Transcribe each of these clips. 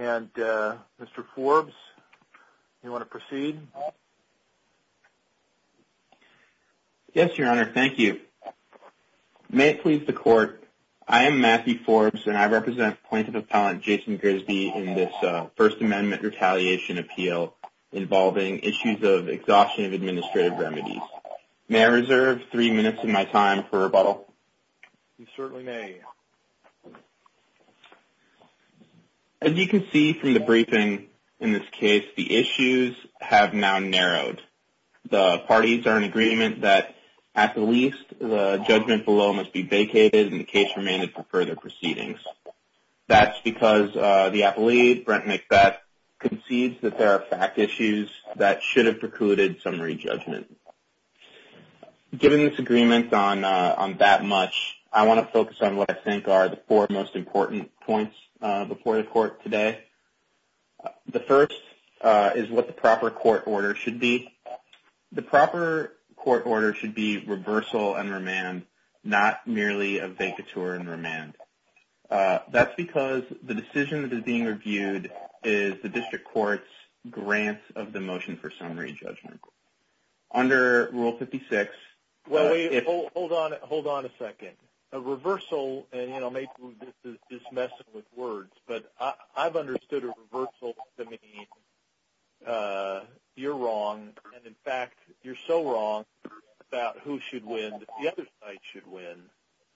and Mr. Forbes. Do you want to proceed? Yes, Your Honor. Thank you. May it please the Court, I am Matthew Forbes and I represent Plaintiff Appellant Jason Grisby in this First Amendment Retaliation Appeal involving issues may I reserve three minutes of my time for rebuttal? You certainly may. As you can see from the briefing in this case, the issues have now narrowed. The parties are in agreement that at the least the judgment below must be vacated and the case remanded for further proceedings. That's because the appellate Brent McBeth concedes that there Given this agreement on that much, I want to focus on what I think are the four most important points before the Court today. The first is what the proper court order should be. The proper court order should be reversal and remand, not merely a vacatur and remand. That's because the decision that is being reviewed is the District Court's grant of the motion for summary judgment. Under Rule 56... Well, wait. Hold on a second. A reversal, and maybe this is messing with words, but I've understood a reversal to mean you're wrong, and in fact, you're so wrong about who should win that the other side should win,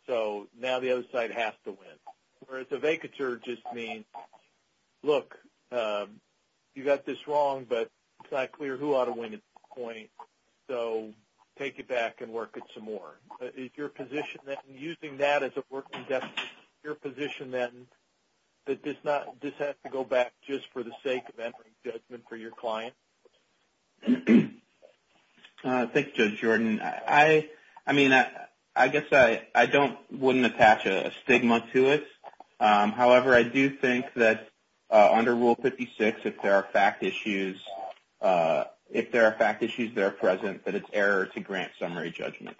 so now the other side has to win. Whereas it's not clear who ought to win at this point, so take it back and work it some more. Is your position then, using that as a working definition, your position then that this has to go back just for the sake of entering judgment for your client? Thank you, Judge Jordan. I mean, I guess I wouldn't attach a stigma to it. However, I do think that under Rule 56, if there are fact issues that are present, that it's error to grant summary judgment,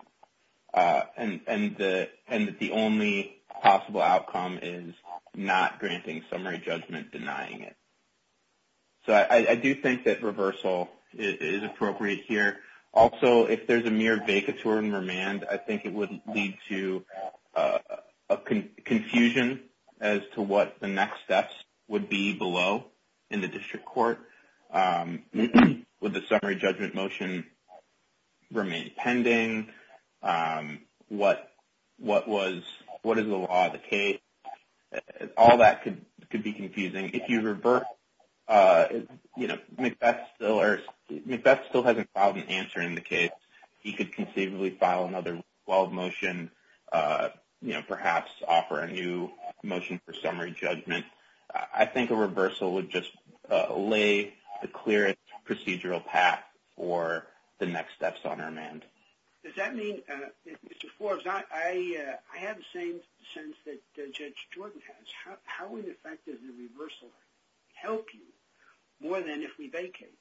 and that the only possible outcome is not granting summary judgment, denying it. So I do think that reversal is appropriate here. Also, if there's a mere vacatur and remand, I think it would lead to confusion as to what the next steps would be below in the district court. Would the summary judgment motion remain pending? What is the law of the case? All that could be confusing. If you revert, Macbeth still hasn't filed an answer in the case. He could conceivably file another wild motion, perhaps offer a new motion for summary judgment. I think a reversal would just lay the clearest procedural path for the next steps on remand. Does that mean, Mr. Forbes, I have the same sense that Judge Jordan has. How, in effect, does the reversal help you more than if we vacate?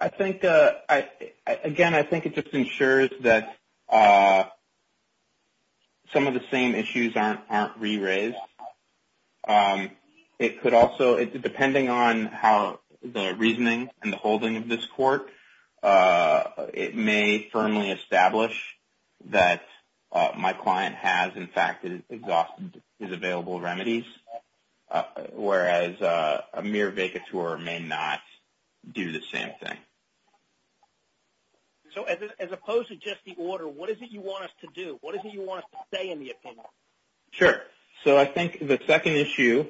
I think, again, I think it just ensures that some of the same issues aren't re-raised. It could also, depending on how the reasoning and the holding of this court, it may firmly establish that my client has, in fact, exhausted his available remedies, whereas a mere vacatur may not do the same thing. So as opposed to just the order, what is it you want us to do? What is it you want us to say in the opinion? Sure. So I think the second issue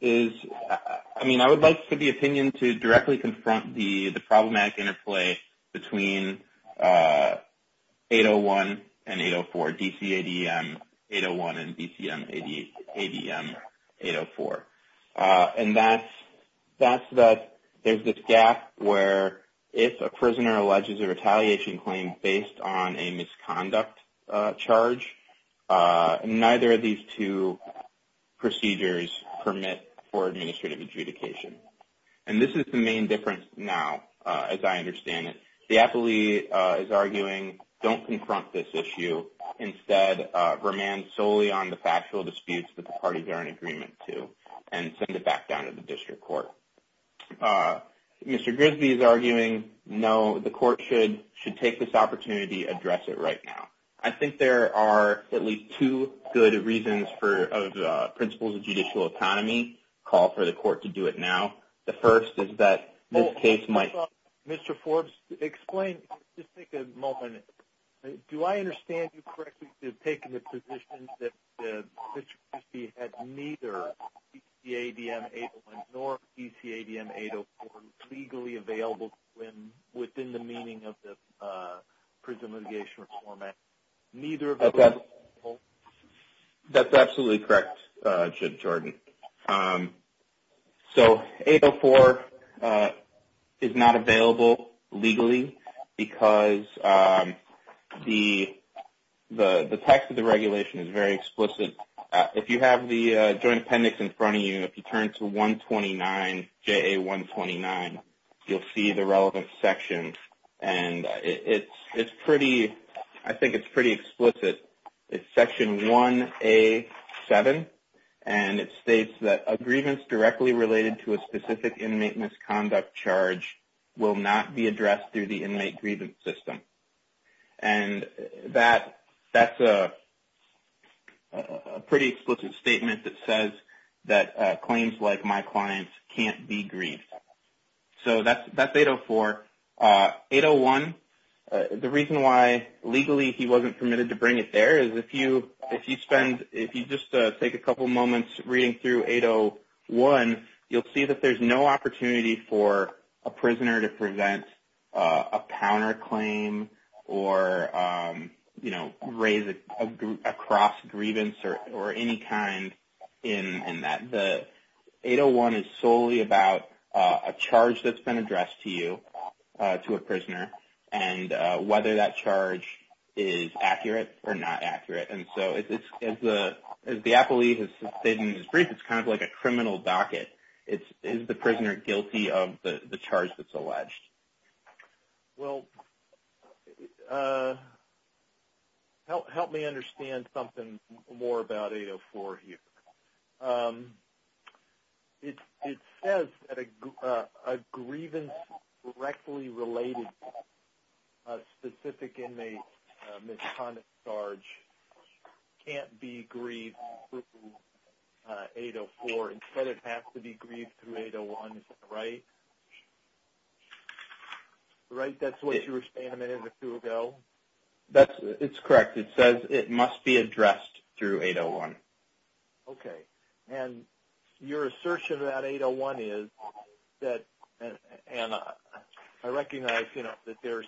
is, I mean, I would like for the opinion to directly confront the problematic interplay between 801 and 804, DCADM 801 and DCADM 804. And that's that there's this gap where if a prisoner alleges a retaliation claim based on a misconduct charge, neither of these two procedures permit for administrative adjudication. And this is the main difference now, as I understand it. The appellee is arguing, don't confront this issue. Instead, remand solely on the factual disputes that the parties are in agreement to and send it back down to the district court. Mr. Grisby is arguing, no, the court should take this opportunity, address it right now. I think there are at least two good reasons for principles of judicial autonomy, call for the court to do it now. The first is that this case might... Mr. Forbes, explain, just take a moment. Do I understand you correctly to have taken the position that Mr. Grisby had neither DCADM 801 nor DCADM 804 legally available to him within the meaning of the Prison Litigation Reform Act? Neither of those... That's absolutely correct, Jim Jordan. So 804 is not available legally because the text of the regulation is very explicit. If you have the joint appendix in front of you, if you turn to 129, JA 129, you'll see the relevant section and it's pretty, I think it's pretty explicit. It's section 1A7 and it states that a grievance directly related to a specific inmate misconduct charge will not be addressed through the inmate grievance system. And that's a pretty explicit statement that says that claims like my clients can't be grieved. So that's 804. 801, the reason why legally he wasn't permitted to bring it there is if you spend, if you just take a couple moments reading through 801, you'll see that there's no opportunity for a prisoner to present a counterclaim or raise a cross grievance or any kind in that. The 801 is solely about a charge that's been addressed to you, to a prisoner, and whether that charge is accurate or not accurate. And so as the appellee has stated in his brief, it's kind of like a criminal docket. Is the prisoner guilty of the Well, help me understand something more about 804 here. It says that a grievance directly related to a specific Right, that's what you were saying a minute or two ago? It's correct. It says it must be addressed through 801. Okay. And your assertion about 801 is that, and I recognize that there's,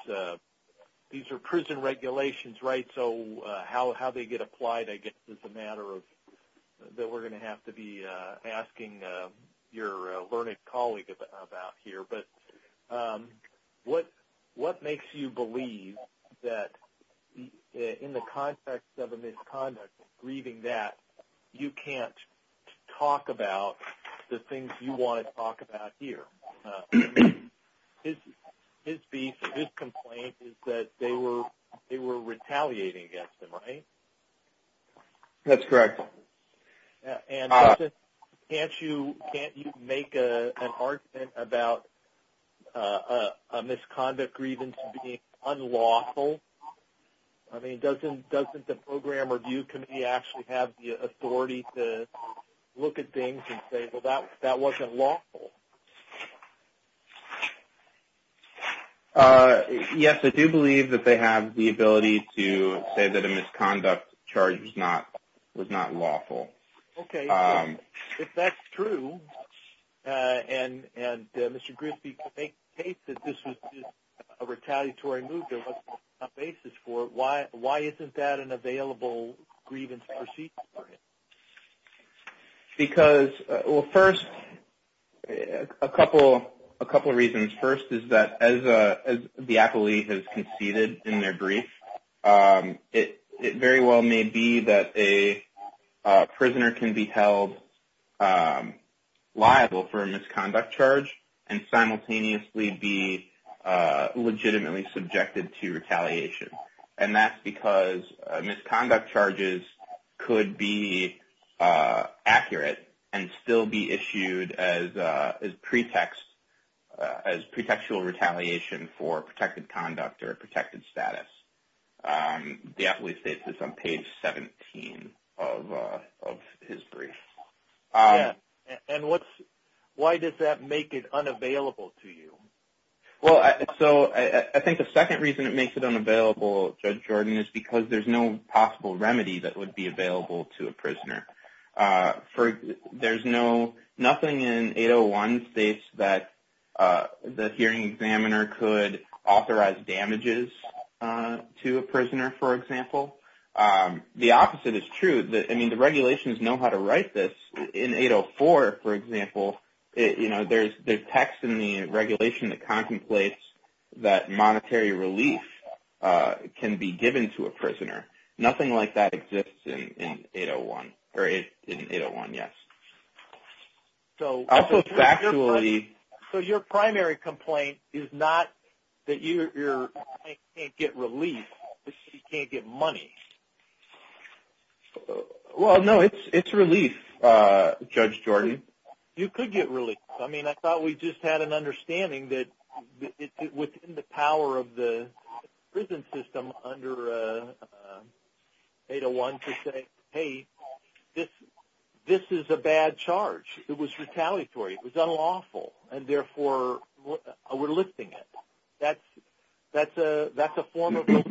these are prison regulations, right? So how they get applied, I guess, is a matter that we're going to have to be asking your learned colleague about here. But what makes you believe that in the context of a misconduct, grieving that, you can't talk about the things you want to talk about here? His piece, his complaint, is that they were retaliating against him, right? That's correct. And can't you make an argument about a misconduct grievance being unlawful? I mean, doesn't the Program Review Committee actually have the authority to look at things and say, well, that wasn't lawful? Yes, I do believe that they have the ability to say that a misconduct charge was not lawful. Okay. If that's true, and Mr. Grisby could make the case that this was just a retaliatory move, there wasn't a basis for it, why isn't that an available grievance proceeding for him? Because, well, first, a couple of reasons. First is that as the appellee has conceded in their brief, it very well may be that a prisoner can be held liable for a misconduct charge and simultaneously be legitimately subjected to retaliation. And that's because misconduct charges could be accurate and still be issued as pretextual retaliation for protected conduct or protected status. The appellee states this on page 17 of his brief. And why does that make it unavailable to you? Well, I think the second reason it makes it unavailable, Judge Jordan, is because there's no possible remedy that would be available to a prisoner. There's nothing in 801 states that the hearing examiner could authorize damages to a prisoner, for example. The opposite is true. I mean, the regulations know how to write this. In 804, for example, there's text in the regulation that contemplates that monetary relief can be given to a prisoner. Nothing like that exists in 801. So your primary complaint is not that your client can't get relief, but that he can't get money. Well, no, it's relief, Judge Jordan. You could get relief. I mean, I thought we just had an understanding that within the power of the prison system under 801 to say, hey, this is a bad charge. It was retaliatory. It was unlawful. And therefore, we're lifting it. That's a form of an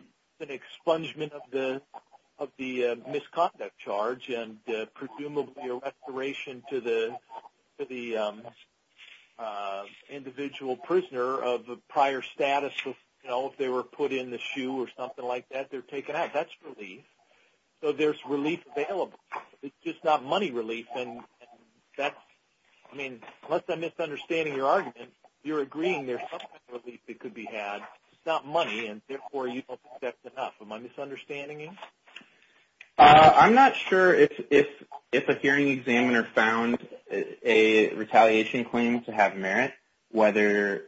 expungement of the misconduct charge and presumably a restoration to the individual prisoner of prior status. So, you know, if they were put in the shoe or something like that, they're taken out. That's relief. So there's relief available. It's just not money relief. And that's – I mean, unless I'm misunderstanding your argument, you're agreeing there's some relief that could be had. It's not money, and therefore, you don't think that's enough. Am I misunderstanding you? I'm not sure if a hearing examiner found a retaliation claim to have merit, whether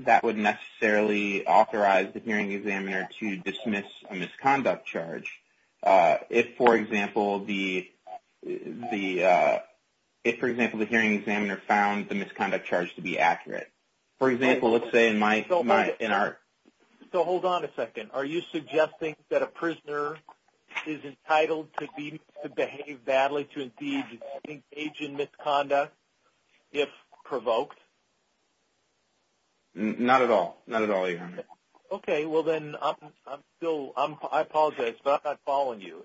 that would necessarily authorize the hearing examiner to dismiss a misconduct charge if, for example, the hearing examiner found the misconduct charge to be accurate. For example, let's say in our – So hold on a second. Are you suggesting that a prisoner is entitled to behave badly, to engage in misconduct if provoked? Not at all. Not at all, either. Okay. Well, then I'm still – I apologize, but I'm not following you.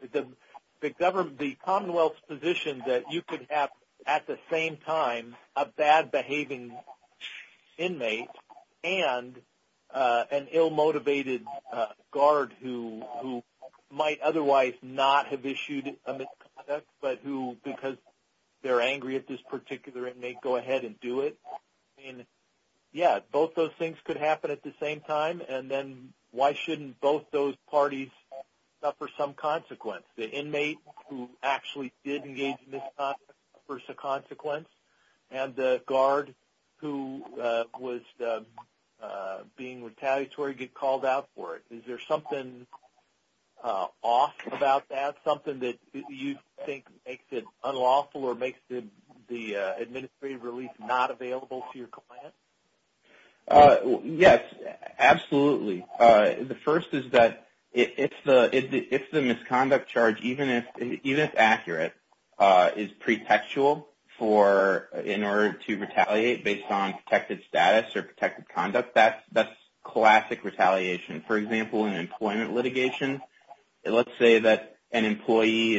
The Commonwealth's position that you could have at the same time a bad-behaving inmate and an ill-motivated guard who might otherwise not have issued a misconduct but who, because they're angry at this particular inmate, go ahead and do it. Yeah, both those things could happen at the same time, and then why shouldn't both those parties suffer some consequence? The inmate who actually did engage in misconduct suffers a consequence, and the guard who was being retaliatory gets called out for it. Is there something off about that, something that you think makes it unlawful or makes the administrative release not available to your client? Yes, absolutely. The first is that if the misconduct charge, even if accurate, is pretextual for – in order to retaliate based on protected status or for example, in employment litigation, let's say that an employee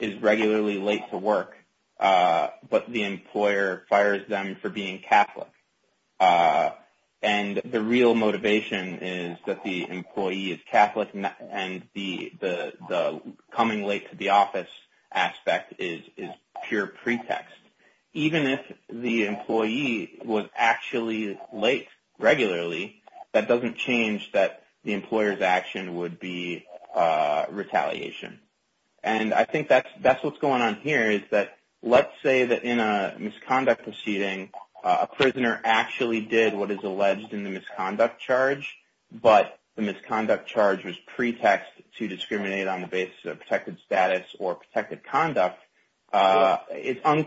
is regularly late to work, but the employer fires them for being Catholic, and the real motivation is that the employee is Catholic and the coming late to the office aspect is pure pretext. Even if the employee was actually late regularly, that doesn't change that the employer's action would be retaliation, and I think that's what's going on here is that let's say that in a misconduct proceeding, a prisoner actually did what is alleged in the misconduct charge, but the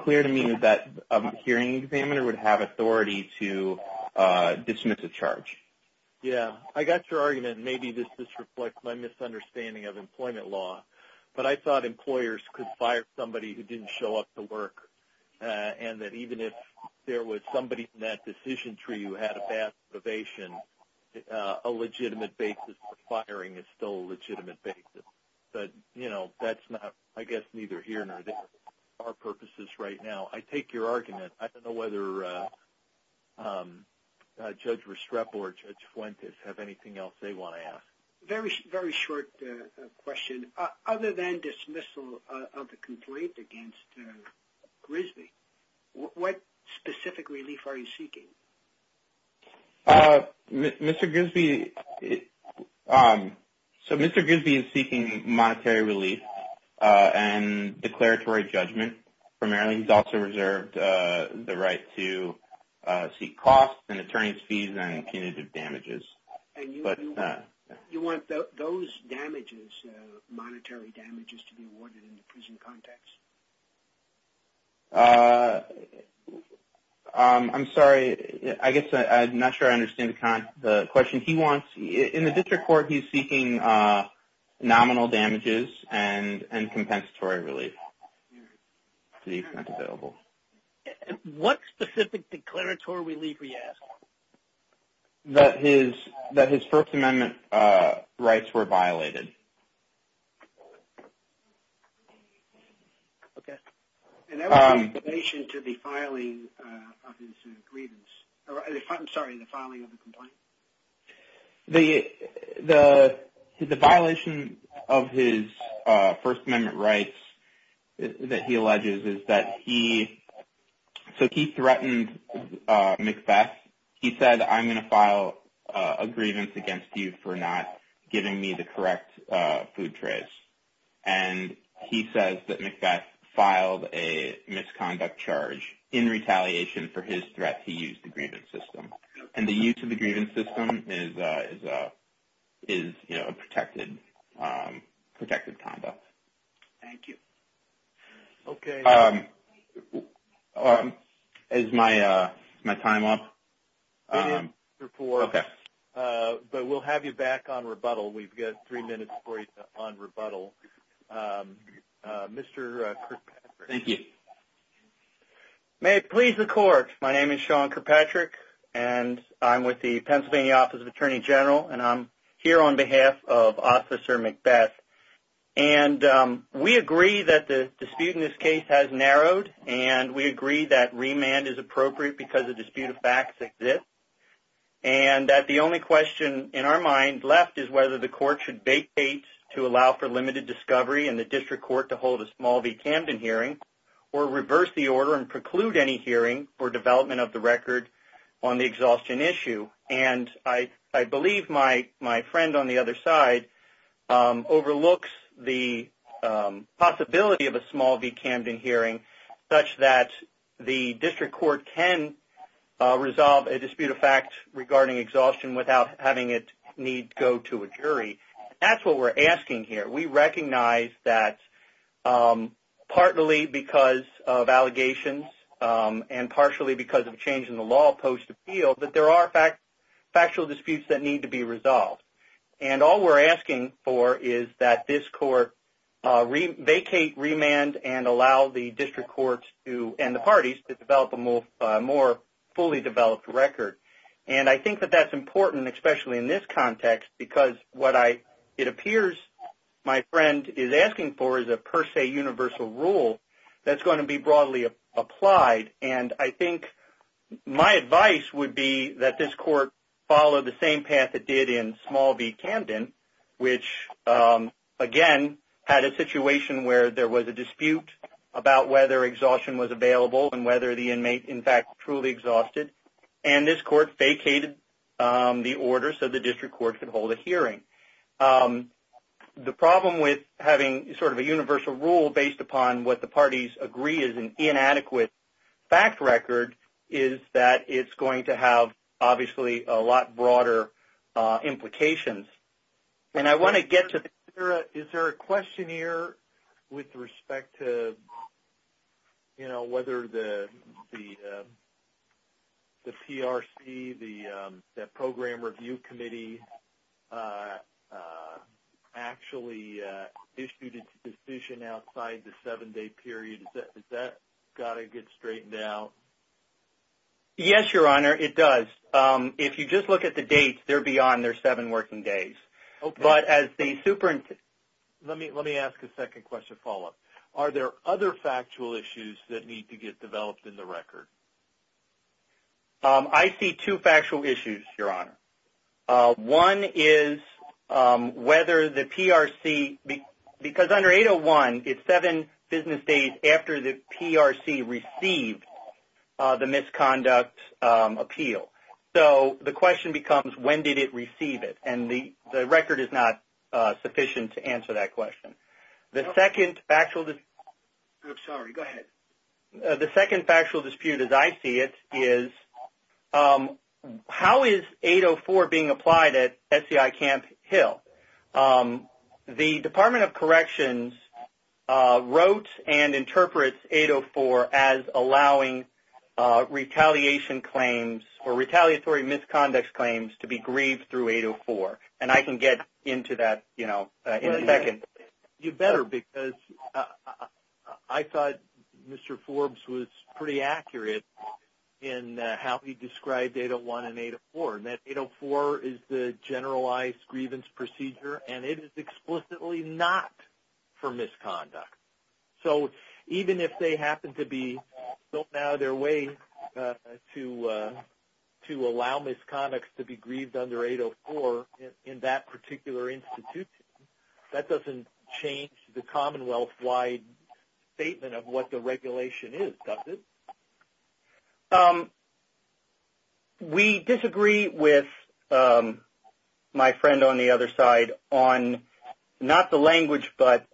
presuming that a hearing examiner would have authority to dismiss a charge. Yes, I got your argument. Maybe this just reflects my misunderstanding of employment law, but I thought employers could fire somebody who didn't show up to work, and that even if there was somebody in that decision tree who had a bad motivation, a legitimate basis for firing is still a legitimate basis. But that's not – I guess neither here nor there are purposes right now. I take your argument. I don't know whether Judge Restrepo or Judge Fuentes have anything else they want to ask. Very short question. Other than dismissal of the complaint against Grisby, what specific relief are you seeking? Mr. Grisby – so Mr. Grisby is seeking monetary relief and declaratory judgment primarily. He's also reserved the right to seek costs and attorney's fees and punitive damages. And you want those damages, monetary damages, to be awarded in the prison context? I'm sorry. I guess I'm not sure I understand the question. He wants – in the district court, he's seeking nominal damages and compensatory relief. That's available. What specific declaratory relief were you asking? That his First Amendment rights were violated. Okay. And that was in relation to the filing of his grievance – I'm sorry, the filing of the complaint. The violation of his First Amendment rights that he alleges is that he – so he threatened McBeth. He said, I'm going to file a grievance against you for not giving me the correct food trays. And he says that McBeth filed a misconduct charge in retaliation for his threat. He used the grievance system. And the use of the grievance system is a protected conduct. Thank you. Okay. Is my time up? Okay. But we'll have you back on rebuttal. We've got three minutes for you on rebuttal. Mr. Kirkpatrick. Thank you. May it please the Court. My name is Sean Kirkpatrick. And I'm with the Pennsylvania Office of Attorney General. And I'm here on behalf of Officer McBeth. And we agree that the dispute in this case has narrowed. And we agree that remand is appropriate because a dispute of facts exists. And that the only question in our mind left is whether the Court should vacate to allow for limited discovery and the District Court to hold a small v. Camden hearing or reverse the order and preclude any hearing for development of the record on the exhaustion issue. And I believe my friend on the other side overlooks the possibility of a small v. Camden hearing such that the District Court can resolve a dispute of facts regarding exhaustion without having it need go to a jury. That's what we're asking here. We recognize that partly because of allegations and partially because of a change in the law post-appeal, that there are factual disputes that need to be resolved. And all we're asking for is that this Court vacate remand and allow the District Courts and the parties to develop a more fully developed record. And I think that that's important, especially in this context, because what it appears my friend is asking for is a per se universal rule that's going to be broadly applied. And I think my advice would be that this Court follow the same path it did in small v. Camden, which again had a situation where there was a dispute about whether exhaustion was available and whether the inmate in fact truly exhausted. And this Court vacated the order so the District Court could hold a hearing. The problem with having sort of a universal rule based upon what the parties agree is an inadequate fact record is that it's going to have obviously a lot broader implications. And I want to get to that. actually issued its decision outside the seven-day period. Has that got to get straightened out? Yes, Your Honor, it does. If you just look at the dates, they're beyond their seven working days. Okay. But as the superintendent... Let me ask a second question follow-up. Are there other factual issues that need to get developed in the record? I see two factual issues, Your Honor. One is whether the PRC... Because under 801, it's seven business days after the PRC received the misconduct appeal. So the question becomes, when did it receive it? And the record is not sufficient to answer that question. The second factual dispute... I'm sorry. Go ahead. The second factual dispute, as I see it, is how is 804 being applied at SEI Camp Hill? The Department of Corrections wrote and interprets 804 as allowing retaliation claims or retaliatory misconduct claims to be grieved through 804. And I can get into that in a second. You better, because I thought Mr. Forbes was pretty accurate in how he described 801 and 804, and that 804 is the generalized grievance procedure, and it is explicitly not for misconduct. So even if they happen to be built out of their way to allow misconduct to be grieved under 804, in that particular institution, that doesn't change the Commonwealth-wide statement of what the regulation is, does it? We disagree with my friend on the other side on not the language, but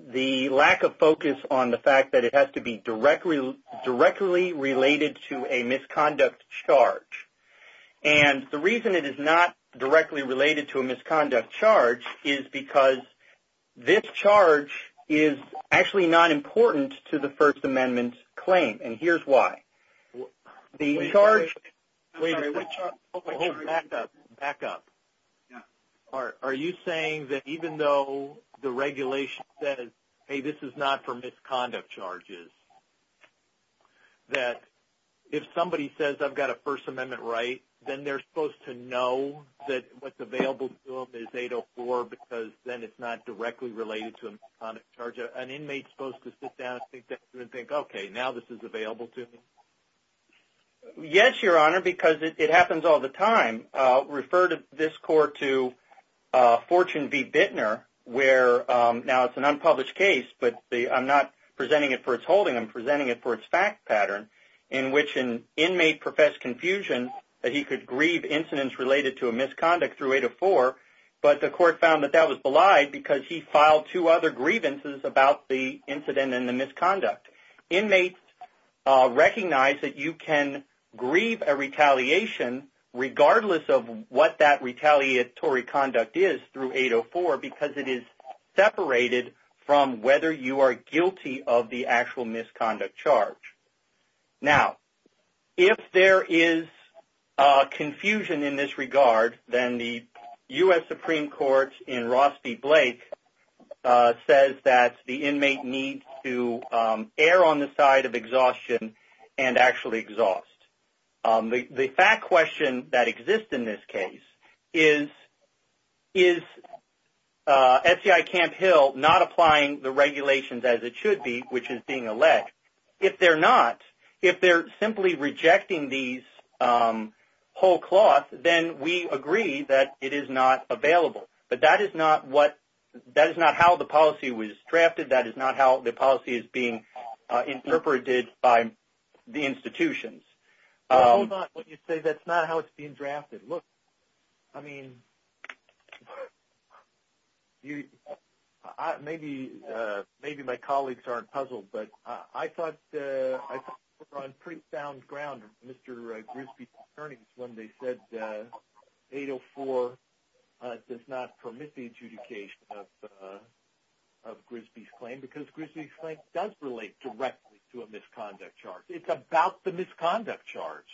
the lack of focus on the fact that it has to be directly related to a misconduct charge. And the reason it is not directly related to a misconduct charge is because this charge is actually not important to the First Amendment claim, and here's why. The charge... Wait a second. Back up. Back up. Are you saying that even though the regulation says, hey, this is not for misconduct charges, that if somebody says, I've got a First Amendment right, then they're supposed to know that what's available to them is 804, because then it's not directly related to a misconduct charge? An inmate is supposed to sit down and think, okay, now this is available to me? Yes, Your Honor, because it happens all the time. Refer this court to Fortune v. Bittner, where now it's an unpublished case, but I'm not presenting it for its holding, I'm presenting it for its fact pattern, in which an inmate professed confusion that he could grieve incidents related to a misconduct through 804, but the court found that that was belied because he filed two other grievances about the incident and the misconduct. Inmates recognize that you can grieve a retaliation regardless of what that retaliatory conduct is through 804 because it is separated from whether you are guilty of the actual misconduct charge. Now, if there is confusion in this regard, then the U.S. Supreme Court in Ross v. Blake says that the inmate needs to err on the side of exhaustion and actually exhaust. The fact question that exists in this case is, is FCI Camp Hill not applying the regulations as it should be, which is being alleged? If they're not, if they're simply rejecting these whole cloth, then we agree that it is not available. But that is not how the policy was drafted. That is not how the policy is being interpreted by the institutions. Hold on. When you say that's not how it's being drafted, look, I mean, maybe my colleagues aren't puzzled, but I thought we were on pretty sound ground, Mr. Grisby's attorneys, when they said 804 does not permit the adjudication of Grisby's claim because Grisby's claim does relate directly to a misconduct charge. It's about the misconduct charge.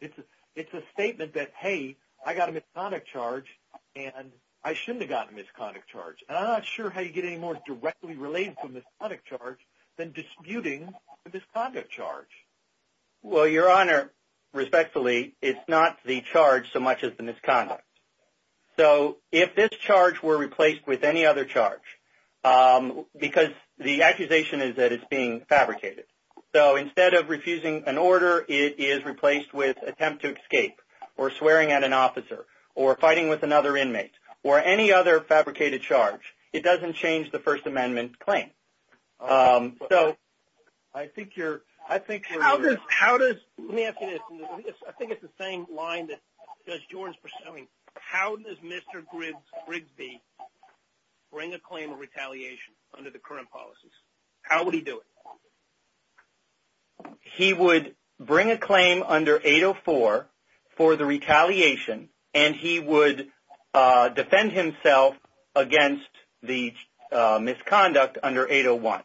It's a statement that, hey, I got a misconduct charge, and I shouldn't have gotten a misconduct charge. And I'm not sure how you get any more directly related to a misconduct charge than disputing a misconduct charge. Well, Your Honor, respectfully, it's not the charge so much as the misconduct. So if this charge were replaced with any other charge, because the accusation is that it's being fabricated, so instead of refusing an order, it is replaced with attempt to escape or swearing at an officer or fighting with another inmate or any other fabricated charge. It doesn't change the First Amendment claim. I think you're – How does – let me ask you this. I think it's the same line that Judge Jordan is pursuing. How does Mr. Grisby bring a claim of retaliation under the current policies? How would he do it? He would bring a claim under 804 for the retaliation, and he would defend himself against the misconduct under 801.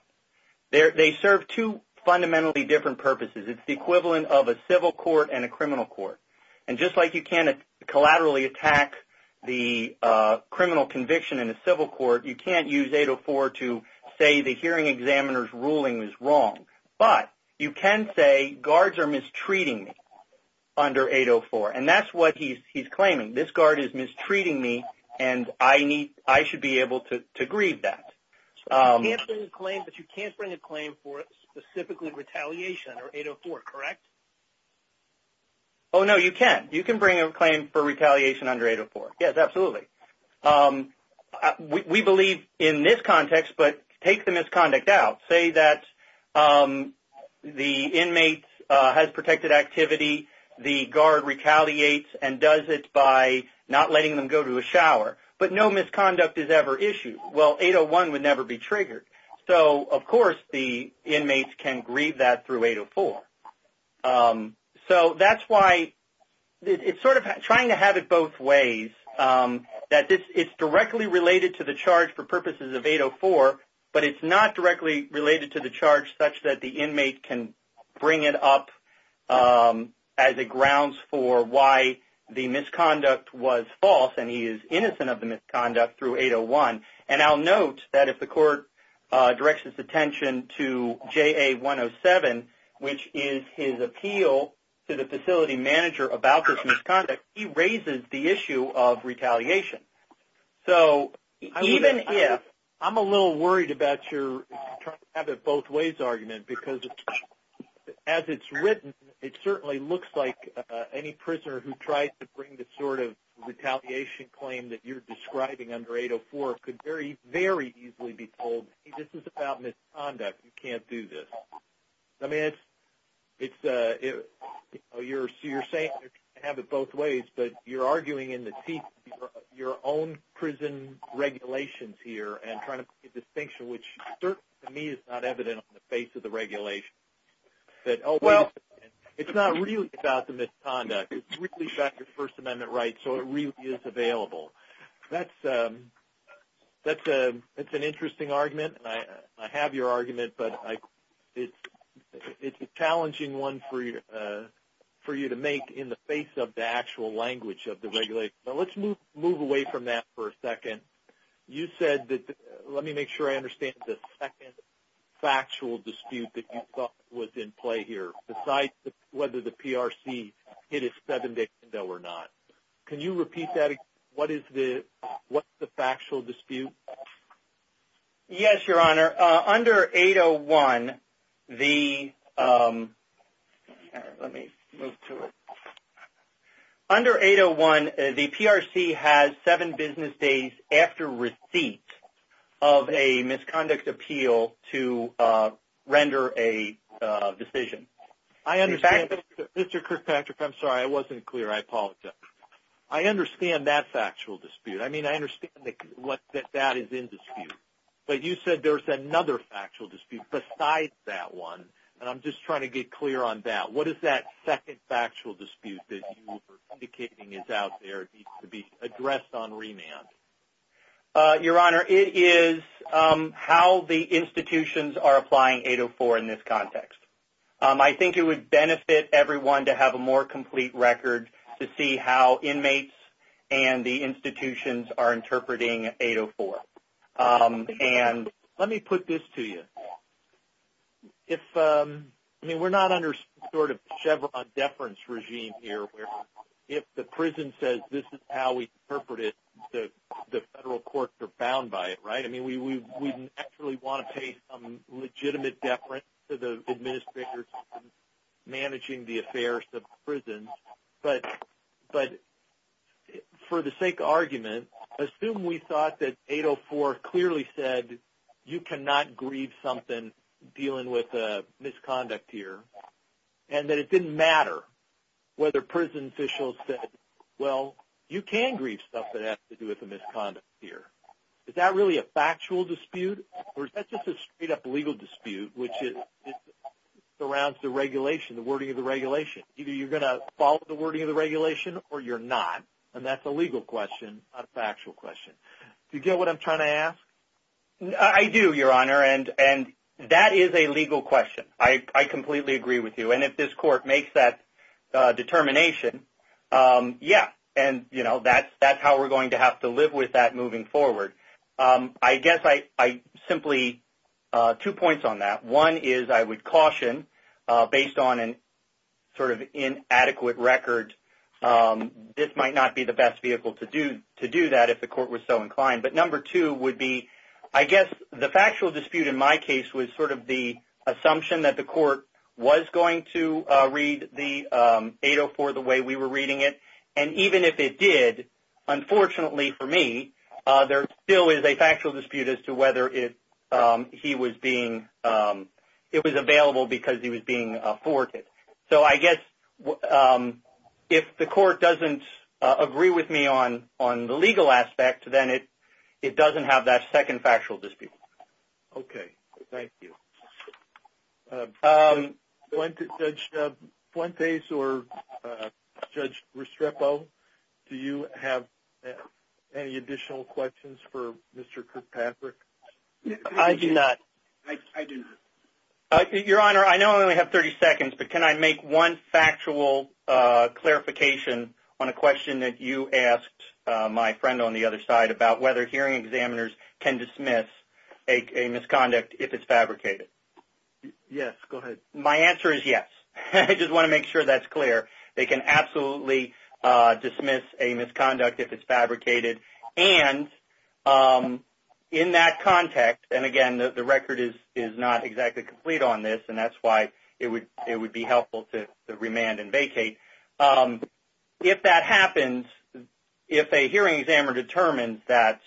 They serve two fundamentally different purposes. It's the equivalent of a civil court and a criminal court. And just like you can't collaterally attack the criminal conviction in a civil court, you can't use 804 to say the hearing examiner's ruling was wrong. But you can say guards are mistreating me under 804, and that's what he's claiming. This guard is mistreating me, and I should be able to grieve that. So you can't bring a claim, but you can't bring a claim for specifically retaliation under 804, correct? Oh, no, you can. You can bring a claim for retaliation under 804. Yes, absolutely. We believe in this context, but take the misconduct out. Say that the inmate has protected activity, the guard retaliates and does it by not letting them go to a shower, but no misconduct is ever issued. Well, 801 would never be triggered. So, of course, the inmates can grieve that through 804. So that's why it's sort of trying to have it both ways, that it's directly related to the charge for purposes of 804, but it's not directly related to the charge such that the inmate can bring it up as a grounds for why the misconduct was false and he is innocent of the misconduct through 801. And I'll note that if the court directs its attention to JA107, which is his appeal to the facility manager about this misconduct, he raises the issue of retaliation. So even if – I'm a little worried about your trying to have it both ways argument because, as it's written, it certainly looks like any prisoner who tries to bring the sort of retaliation claim that you're describing under 804 could very, very easily be told, hey, this is about misconduct. You can't do this. I mean, it's – so you're saying you're trying to have it both ways, but you're arguing in the teeth of your own prison regulations here and trying to make a distinction, which certainly to me is not evident on the face of the regulation. That, oh, well, it's not really about the misconduct. It's really about your First Amendment rights, so it really is available. That's an interesting argument, and I have your argument, but it's a challenging one for you to make in the face of the actual language of the regulation. But let's move away from that for a second. You said that – let me make sure I understand the second factual dispute that you thought was in play here, besides whether the PRC hit a seven-day window or not. Can you repeat that again? What is the factual dispute? Yes, Your Honor. Under 801, the – let me move to it. Under 801, the PRC has seven business days after receipt of a misconduct appeal to render a decision. Mr. Kirkpatrick, I'm sorry. I wasn't clear. I apologize. I understand that factual dispute. I mean, I understand that that is in dispute, but you said there was another factual dispute besides that one, and I'm just trying to get clear on that. What is that second factual dispute that you were indicating is out there and needs to be addressed on remand? Your Honor, it is how the institutions are applying 804 in this context. I think it would benefit everyone to have a more complete record to see how inmates and the institutions are interpreting 804. And let me put this to you. If – I mean, we're not under sort of Chevron deference regime here, where if the prison says this is how we interpret it, the federal courts are bound by it, right? I mean, we naturally want to pay some legitimate deference to the administrators managing the affairs of the prison, but for the sake of argument, assume we thought that 804 clearly said you cannot grieve something dealing with a misconduct here and that it didn't matter whether prison officials said, well, you can grieve stuff that has to do with a misconduct here. Is that really a factual dispute, or is that just a straight-up legal dispute, which surrounds the regulation, the wording of the regulation? Either you're going to follow the wording of the regulation or you're not, and that's a legal question, not a factual question. Do you get what I'm trying to ask? I do, Your Honor, and that is a legal question. I completely agree with you, and if this court makes that determination, yeah, and, you know, that's how we're going to have to live with that moving forward. I guess I simply – two points on that. One is I would caution, based on an sort of inadequate record, this might not be the best vehicle to do that if the court was so inclined. But number two would be I guess the factual dispute in my case was sort of the assumption that the court was going to read the 804 the way we were reading it, and even if it did, unfortunately for me, there still is a factual dispute as to whether he was being – it was available because he was being afforded. So I guess if the court doesn't agree with me on the legal aspect, then it doesn't have that second factual dispute. Okay. Thank you. Judge Fuentes or Judge Restrepo, do you have any additional questions for Mr. Kirkpatrick? I do not. I do not. Your Honor, I know I only have 30 seconds, but can I make one factual clarification on a question that you asked my friend on the other side about whether hearing examiners can dismiss a misconduct if it's fabricated? Yes, go ahead. My answer is yes. I just want to make sure that's clear. They can absolutely dismiss a misconduct if it's fabricated. And in that context, and again, the record is not exactly complete on this, and that's why it would be helpful to remand and vacate. If that happens, if a hearing examiner determines that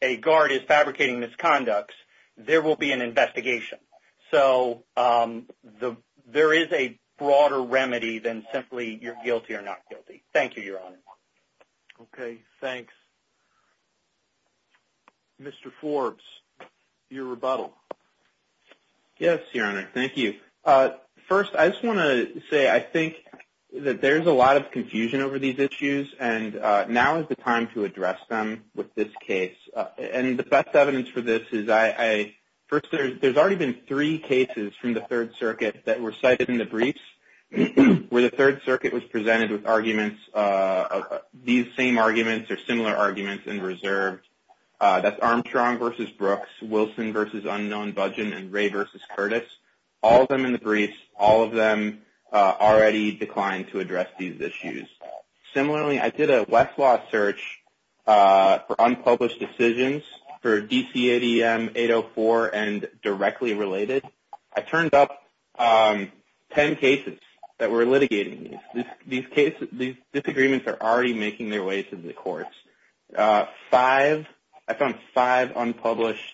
a guard is fabricating misconducts, there will be an investigation. So there is a broader remedy than simply you're guilty or not guilty. Thank you, Your Honor. Okay. Thanks. Mr. Forbes, your rebuttal. Yes, Your Honor. Thank you. First, I just want to say I think that there's a lot of confusion over these issues, and now is the time to address them with this case. And the best evidence for this is first, there's already been three cases from the Third Circuit that were cited in the briefs where the Third Circuit was presented with arguments, these same arguments or similar arguments in reserve. That's Armstrong v. Brooks, Wilson v. Unknown Budgen, and Ray v. Curtis. All of them in the briefs, all of them already declined to address these issues. Similarly, I did a Westlaw search for unpublished decisions for DCADM 804 and directly related. I turned up ten cases that were litigating these. These disagreements are already making their way to the courts. I found five unpublished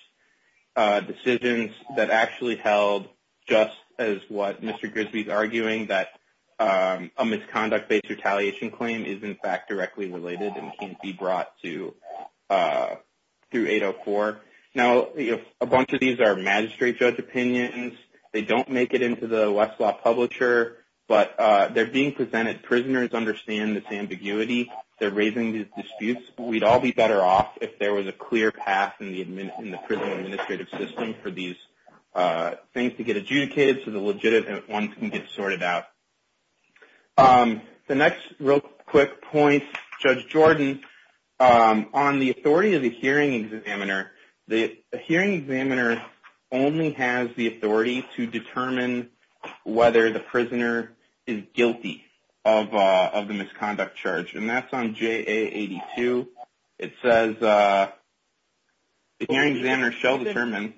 decisions that actually held just as what Mr. Grisby is arguing, that a misconduct-based retaliation claim is, in fact, directly related and can't be brought through 804. Now, a bunch of these are magistrate judge opinions. They don't make it into the Westlaw Publisher, but they're being presented. Prisoners understand this ambiguity. They're raising these disputes. We'd all be better off if there was a clear path in the prison administrative system for these things to get adjudicated so the legitimate ones can get sorted out. The next real quick point, Judge Jordan, on the authority of the hearing examiner, the hearing examiner only has the authority to determine whether the prisoner is guilty of the misconduct charge, and that's on JA 82. It says the hearing examiner shall determine.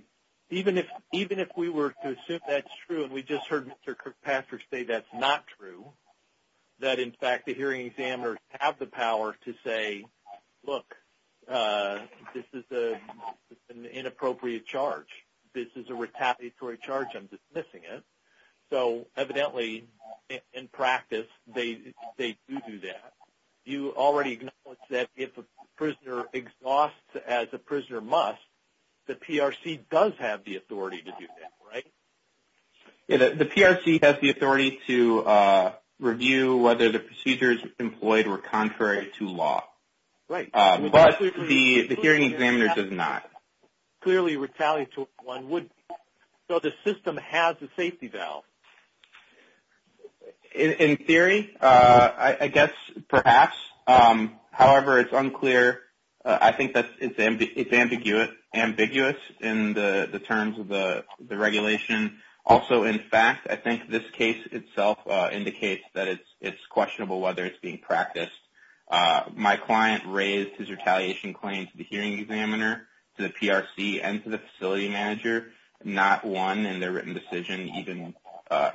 Even if we were to assume that's true and we just heard Mr. Cook-Pastor say that's not true, that, in fact, the hearing examiners have the power to say, look, this is an inappropriate charge. This is a retaliatory charge. I'm dismissing it. So evidently, in practice, they do do that. You already acknowledged that if a prisoner exhausts as a prisoner must, the PRC does have the authority to do that, right? The PRC has the authority to review whether the procedures employed were contrary to law. Right. But the hearing examiner does not. Clearly retaliatory one would be. So the system has a safety valve. In theory, I guess perhaps. However, it's unclear. I think it's ambiguous in the terms of the regulation. Also, in fact, I think this case itself indicates that it's questionable whether it's being practiced. My client raised his retaliation claim to the hearing examiner, to the PRC, and to the facility manager. Not one in their written decision even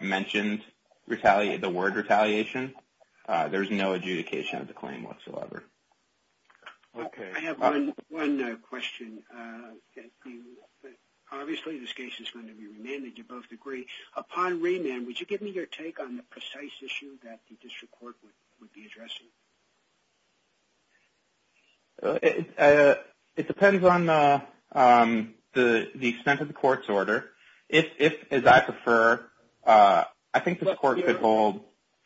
mentioned the word retaliation. There's no adjudication of the claim whatsoever. I have one question. Obviously, this case is going to be remanded. You both agree. Upon remand, would you give me your take on the precise issue that the district court would be addressing? It depends on the extent of the court's order. As I prefer, I think the court could hold.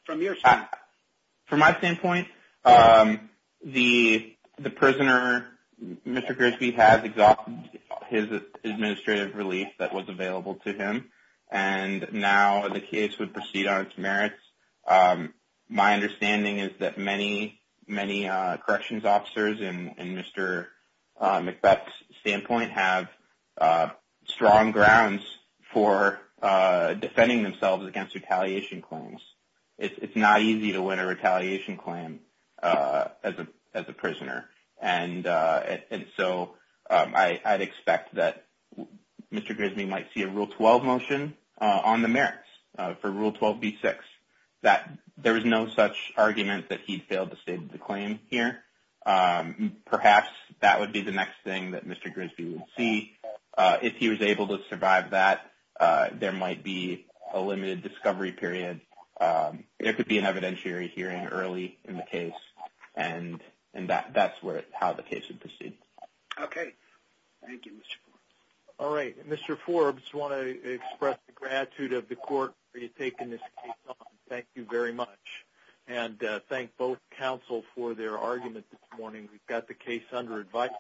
From your standpoint? From my standpoint, the prisoner, Mr. Grigsby, has exhausted his administrative relief that was available to him, and now the case would proceed on its merits. My understanding is that many corrections officers, in Mr. McBeth's standpoint, have strong grounds for defending themselves against retaliation claims. It's not easy to win a retaliation claim as a prisoner. I'd expect that Mr. Grigsby might see a Rule 12 motion on the merits for Rule 12b-6. There was no such argument that he failed to state the claim here. Perhaps that would be the next thing that Mr. Grigsby would see. If he was able to survive that, there might be a limited discovery period. It could be an evidentiary hearing early in the case, and that's how the case would proceed. Okay. Thank you, Mr. Forbes. All right. Mr. Forbes, I want to express the gratitude of the court for you taking this case on. Thank you very much. And thank both counsel for their argument this morning. We've got the case under advisory.